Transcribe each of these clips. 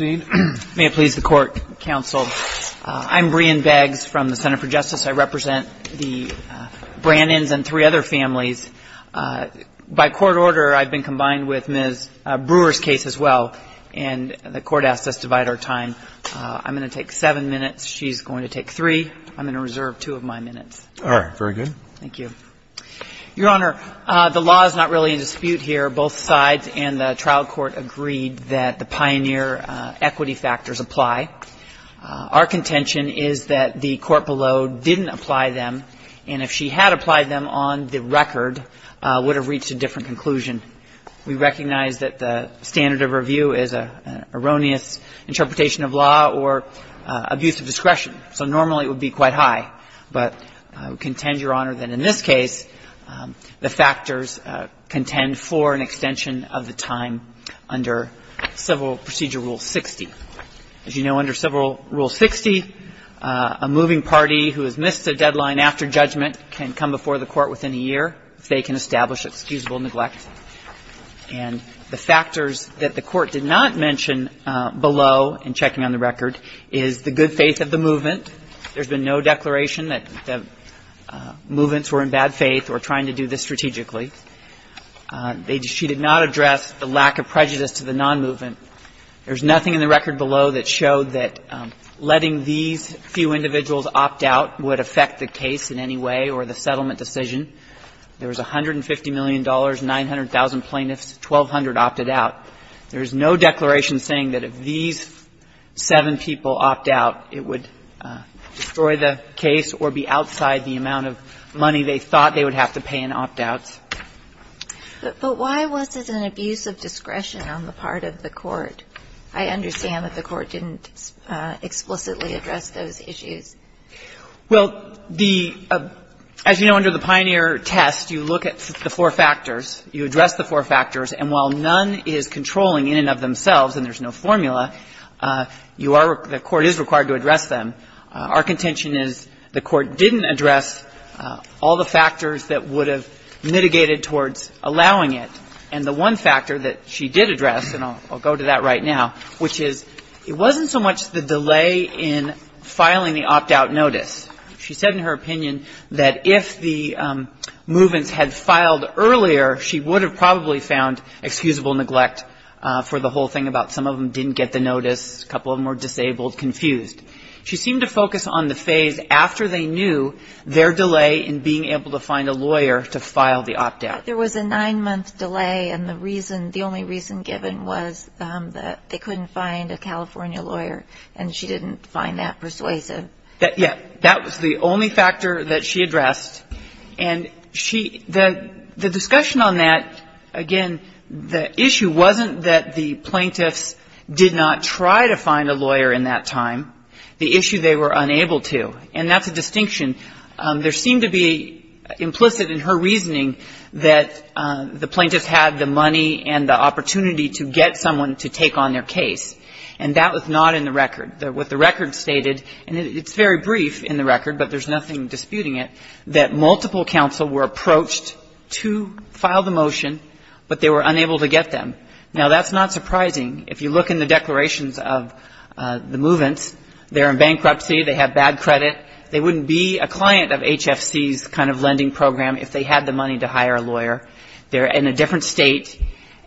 May it please the Court, Counsel. I'm Brian Beggs from the Center for Justice. I represent the Brannons and three other families. By court order, I've been combined with Ms. Brewer's case as well, and the Court asked us to divide our time. I'm going to take seven minutes. She's going to take three. I'm going to reserve two of my minutes. All right. Very good. Thank you. Your Honor, the law is not really in dispute here. Both sides and the trial court agreed that the pioneer equity factors apply. Our contention is that the court below didn't apply them, and if she had applied them on the record, would have reached a different conclusion. We recognize that the standard of review is an erroneous interpretation of law or abuse of discretion, so normally it would be quite high. But we contend, Your Honor, that in this case, the factors contend for an extension of the time under Civil Procedure Rule 60. As you know, under Civil Rule 60, a moving party who has missed a deadline after judgment can come before the Court within a year if they can establish excusable neglect. And the factors that the Court did not mention below in checking on the record is the good faith of the movement. There's been no declaration that the movements were in bad faith or trying to do this strategically. She did not address the lack of prejudice to the nonmovement. There's nothing in the record below that showed that letting these few individuals opt out would affect the case in any way or the settlement decision. There was $150 million, 900,000 plaintiffs, 1,200 opted out. There is no declaration saying that if these seven people opt out, it would destroy the case or be outside the amount of money they thought they would have to pay in opt-outs. But why was this an abuse of discretion on the part of the Court? I understand that the Court didn't explicitly address those issues. Well, the – as you know, under the Pioneer test, you look at the four factors. You address the four factors. And while none is controlling in and of themselves and there's no formula, you are – the Court is required to address them. Our contention is the Court didn't address all the factors that would have mitigated towards allowing it. And the one factor that she did address, and I'll go to that right now, which is it wasn't so much the delay in filing the opt-out notice. She said in her opinion that if the movements had filed earlier, she would have probably found excusable neglect for the whole thing about some of them didn't get the notice, a couple of them were disabled, confused. She seemed to focus on the phase after they knew their delay in being able to find a lawyer to file the opt-out. There was a nine-month delay, and the reason – the only reason given was that they couldn't find a California lawyer, and she didn't find that persuasive. Yeah. That was the only factor that she addressed. And she – the discussion on that, again, the issue wasn't that the plaintiffs did not try to find a lawyer in that time. The issue, they were unable to. And that's a distinction. There seemed to be implicit in her reasoning that the plaintiffs had the money and the opportunity to get someone to take on their case. And that was not in the record. What the record stated, and it's very brief in the record, but there's nothing disputing it, that multiple counsel were approached to file the motion, but they were unable to get them. Now, that's not surprising. If you look in the declarations of the movements, they're in bankruptcy, they have bad credit, they wouldn't be a client of HFC's kind of lending program if they had the money to hire a lawyer. They're in a different State,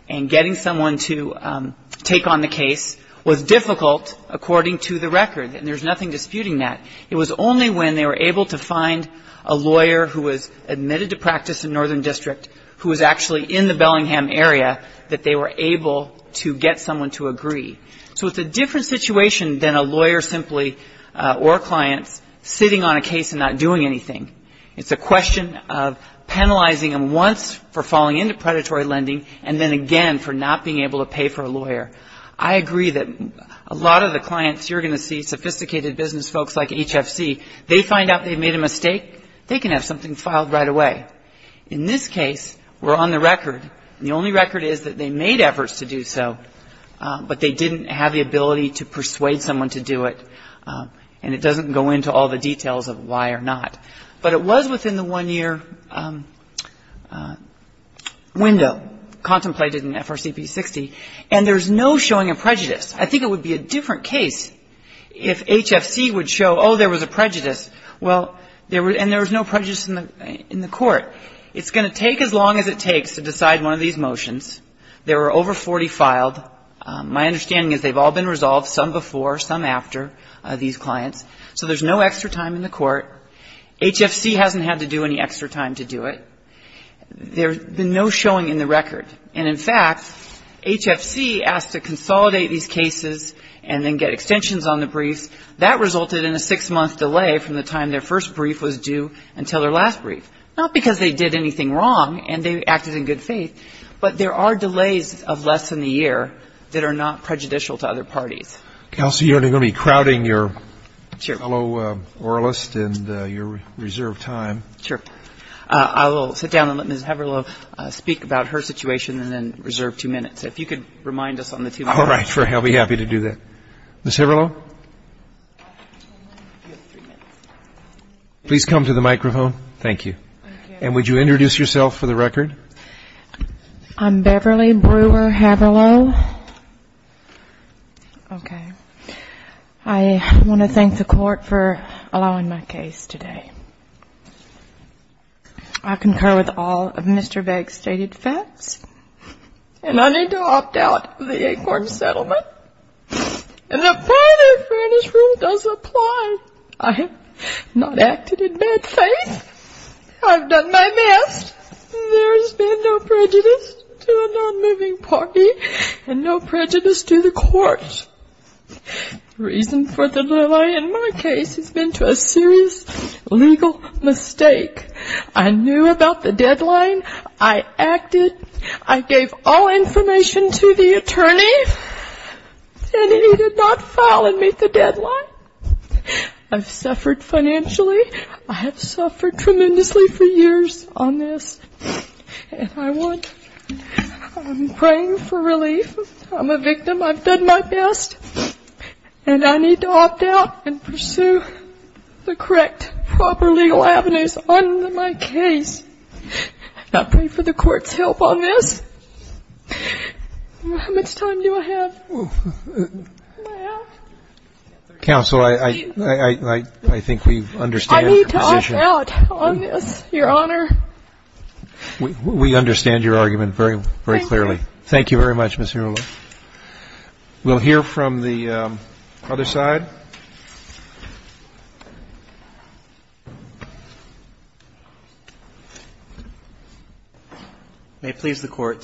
and getting someone to take on the case was difficult according to the record. And there's nothing disputing that. It was only when they were able to find a lawyer who was admitted to practice in Northern District who was actually in the Bellingham area that they were able to get someone to agree. So it's a different situation than a lawyer simply or clients sitting on a case and not doing anything. It's a question of penalizing them once for falling into predatory lending and then again for not being able to pay for a lawyer. I agree that a lot of the clients you're going to see, sophisticated business folks like HFC, they find out they've made a mistake, they can have something filed right away. In this case, we're on the record, and the only record is that they made efforts to do so, but they didn't have the ability to persuade someone to do it, and it doesn't go into all the details of why or not. But it was within the one-year window contemplated in FRCP 60. And there's no showing of prejudice. I think it would be a different case if HFC would show, oh, there was a prejudice, well, and there was no prejudice in the court. It's going to take as long as it takes to decide one of these motions. There were over 40 filed. My understanding is they've all been resolved, some before, some after, these clients. So there's no extra time in the court. HFC hasn't had to do any extra time to do it. There's been no showing in the record. And, in fact, HFC asked to consolidate these cases and then get extensions on the briefs. That resulted in a six-month delay from the time their first brief was due until their last brief, not because they did anything wrong and they acted in good faith, but there are delays of less than a year that are not prejudicial to other parties. Counsel, you're only going to be crowding your fellow oralist and your reserved time. Sure. I will sit down and let Ms. Haverlow speak about her situation and then reserve two minutes. If you could remind us on the two minutes. All right. I'll be happy to do that. Ms. Haverlow? You have three minutes. Please come to the microphone. Thank you. And would you introduce yourself for the record? I'm Beverly Brewer Haverlow. Okay. I want to thank the court for allowing my case today. I concur with all of Mr. Begg's stated facts. And I need to opt out of the eight-court settlement. And the final fairness rule does apply. I have not acted in bad faith. I've done my best. There has been no prejudice to a non-moving party and no prejudice to the court. The reason for the delay in my case has been to a serious legal mistake. I knew about the deadline. I acted. I gave all information to the attorney. And he did not file and meet the deadline. I've suffered financially. I have suffered tremendously for years on this. And I want to pray for relief. I'm a victim. I've done my best. And I need to opt out and pursue the correct proper legal avenues on my case. I pray for the court's help on this. How much time do I have? Counsel, I think we understand your position. I need to opt out on this, Your Honor. We understand your argument very, very clearly. Thank you. Thank you very much, Ms. Hurley. We'll hear from the other side. May it please the Court.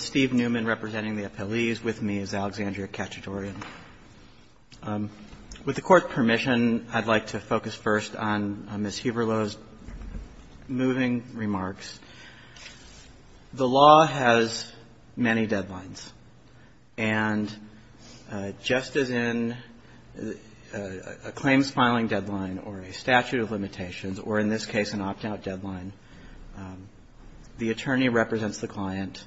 With the Court's permission, I'd like to focus first on Ms. Huberlo's moving remarks. The law has many deadlines. And just as in a claims filing deadline or a statute of limitations, or in this case an opt-out deadline, the attorney represents the client.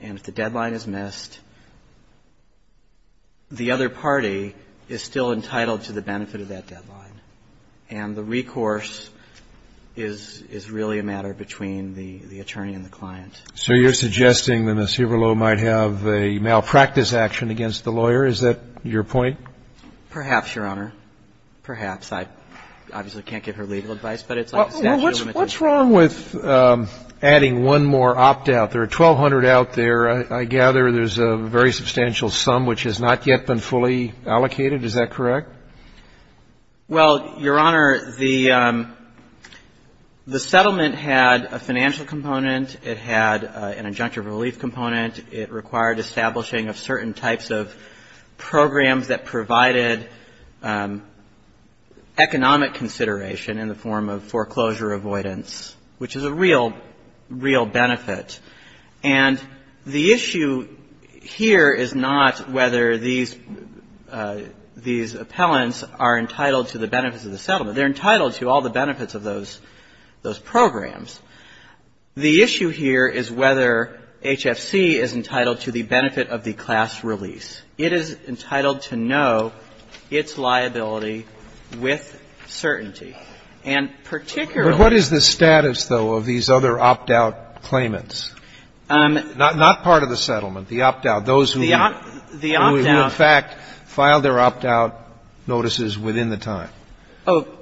And if the deadline is missed, the other party is still entitled to the benefit of that deadline. And the recourse is really a matter between the attorney and the client. So you're suggesting that Ms. Huberlo might have a malpractice action against the lawyer? Is that your point? Perhaps, Your Honor. Perhaps. I obviously can't give her legal advice, but it's like a statute of limitations. Well, what's wrong with adding one more opt-out? There are 1,200 out there. I gather there's a very substantial sum which has not yet been fully allocated. Is that correct? Well, Your Honor, the settlement had a financial component. It had an injunctive relief component. It required establishing of certain types of programs that provided economic consideration in the form of foreclosure avoidance, which is a real, real benefit. And the issue here is not whether these appellants are entitled to the benefits of the settlement. They're entitled to all the benefits of those programs. The issue here is whether HFC is entitled to the benefit of the class release. It is entitled to know its liability with certainty. And particularly ---- But what is the status, though, of these other opt-out claimants? Not part of the settlement, the opt-out, those who in fact filed their opt-out notices within the time?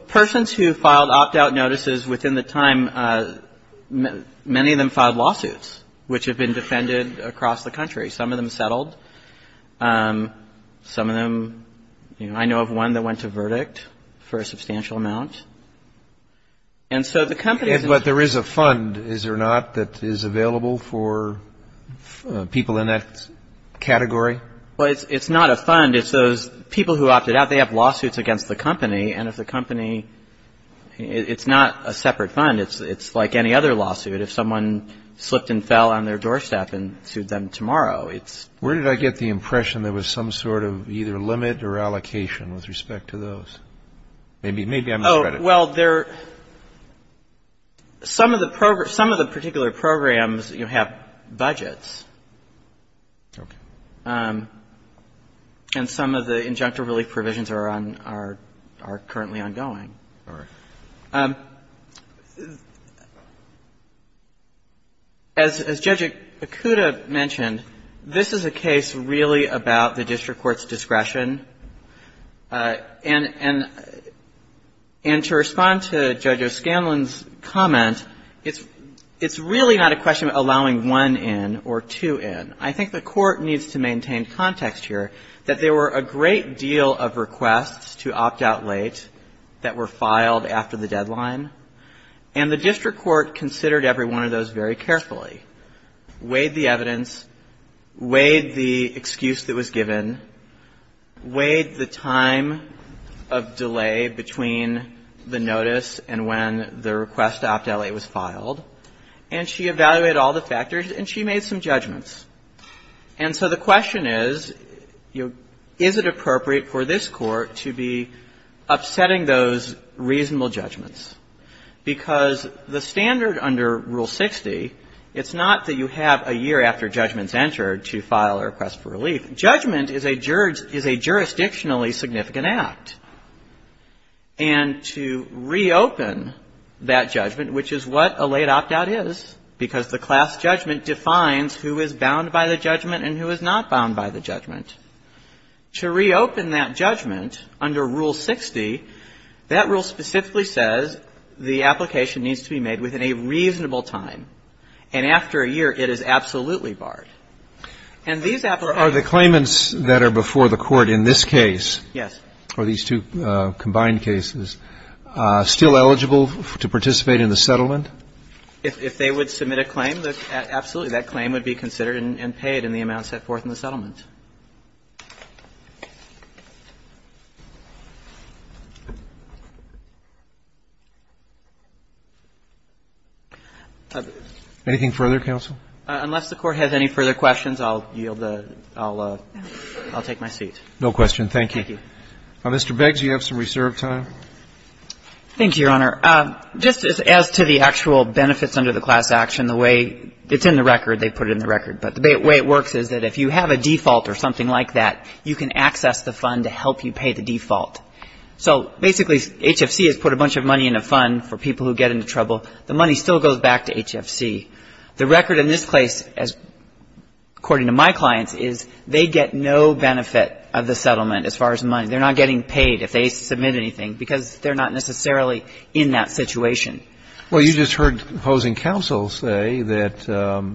Persons who filed opt-out notices within the time, many of them filed lawsuits, which have been defended across the country. Some of them settled. Some of them ---- I know of one that went to verdict for a substantial amount. And so the companies ---- But there is a fund, is there not, that is available for people in that category? Well, it's not a fund. It's those people who opted out. They have lawsuits against the company. And if the company ---- it's not a separate fund. It's like any other lawsuit. If someone slipped and fell on their doorstep and sued them tomorrow, it's ---- Where did I get the impression there was some sort of either limit or allocation with respect to those? Maybe I'm misread it. Well, there ---- some of the particular programs, you know, have budgets. Okay. And some of the injunctive relief provisions are currently ongoing. All right. As Judge Ikuda mentioned, this is a case really about the district court's discretion. And to respond to Judge O'Scanlon's comment, it's really not a question of allowing one in or two in. I think the Court needs to maintain context here that there were a great deal of requests to opt out late that were filed after the deadline, and the district court considered every one of those very carefully, weighed the evidence, weighed the excuse that was given, weighed the time of delay between the notice and when the request to opt out late was filed, and she evaluated all the factors and she made some judgments. And so the question is, you know, is it appropriate for this Court to be upsetting those reasonable judgments? Because the standard under Rule 60, it's not that you have a year after judgment's entered to file a request for relief. Judgment is a jurisdictionally significant act. And to reopen that judgment, which is what a late opt out is, because the class judgment defines who is bound by the judgment and who is not bound by the judgment, to reopen that judgment under Rule 60, that rule specifically says the application needs to be made within a reasonable time. And after a year, it is absolutely barred. And these applications are the claimants that are before the Court in this case. Yes. Are these two combined cases still eligible to participate in the settlement? If they would submit a claim, absolutely. That claim would be considered and paid in the amount set forth in the settlement. Anything further, counsel? Unless the Court has any further questions, I'll yield the ---- I'll take my seat. No question. Thank you. Thank you. Thank you, Your Honor. Just as to the actual benefits under the class action, the way it's in the record, they put it in the record. But the way it works is that if you have a default or something like that, you can access the fund to help you pay the default. So basically, HFC has put a bunch of money in a fund for people who get into trouble. The money still goes back to HFC. The record in this case, according to my clients, is they get no benefit of the settlement as far as money. They're not getting paid if they submit anything because they're not necessarily in that situation. Well, you just heard opposing counsel say that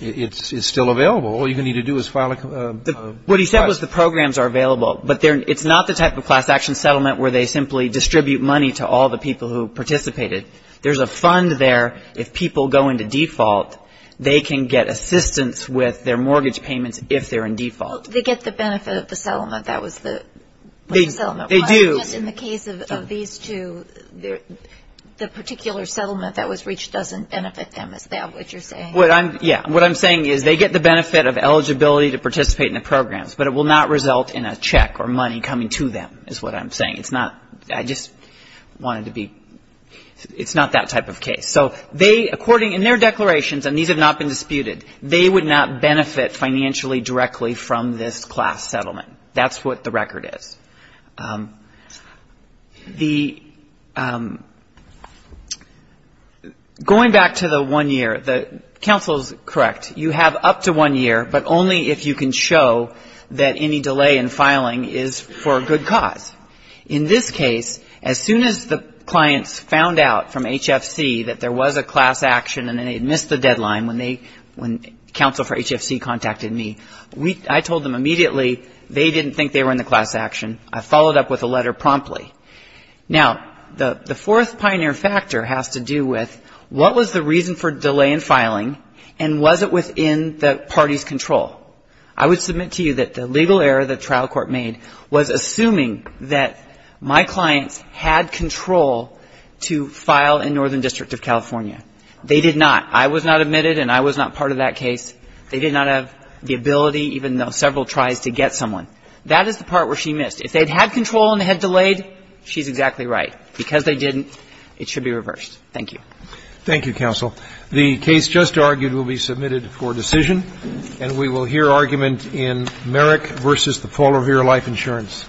it's still available. All you're going to need to do is file a ---- What he said was the programs are available. But it's not the type of class action settlement where they simply distribute money to all the people who participated. There's a fund there. If people go into default, they can get assistance with their mortgage payments if they're in default. They get the benefit of the settlement. That was the settlement. They do. In the case of these two, the particular settlement that was reached doesn't benefit them. Is that what you're saying? Yeah. What I'm saying is they get the benefit of eligibility to participate in the programs, but it will not result in a check or money coming to them is what I'm saying. It's not ---- I just wanted to be ---- It's not that type of case. So they, according, in their declarations, and these have not been disputed, they would not benefit financially directly from this class settlement. That's what the record is. Going back to the one year, the counsel is correct. You have up to one year, but only if you can show that any delay in filing is for a good cause. In this case, as soon as the clients found out from HFC that there was a class action and they had missed the deadline when they, when counsel for HFC contacted me, I told them immediately they didn't think they were in the class action. I followed up with a letter promptly. Now, the fourth pioneer factor has to do with what was the reason for delay in filing and was it within the party's control? I would submit to you that the legal error the trial court made was assuming that my clients had control to file in Northern District of California. They did not. I was not admitted and I was not part of that case. They did not have the ability, even though several tries to get someone. That is the part where she missed. If they had control and they had delayed, she's exactly right. Because they didn't, it should be reversed. Thank you. Roberts. Thank you, counsel. The case just argued will be submitted for decision. And we will hear argument in Merrick v. The Polar Bear Life Insurance. Thank you.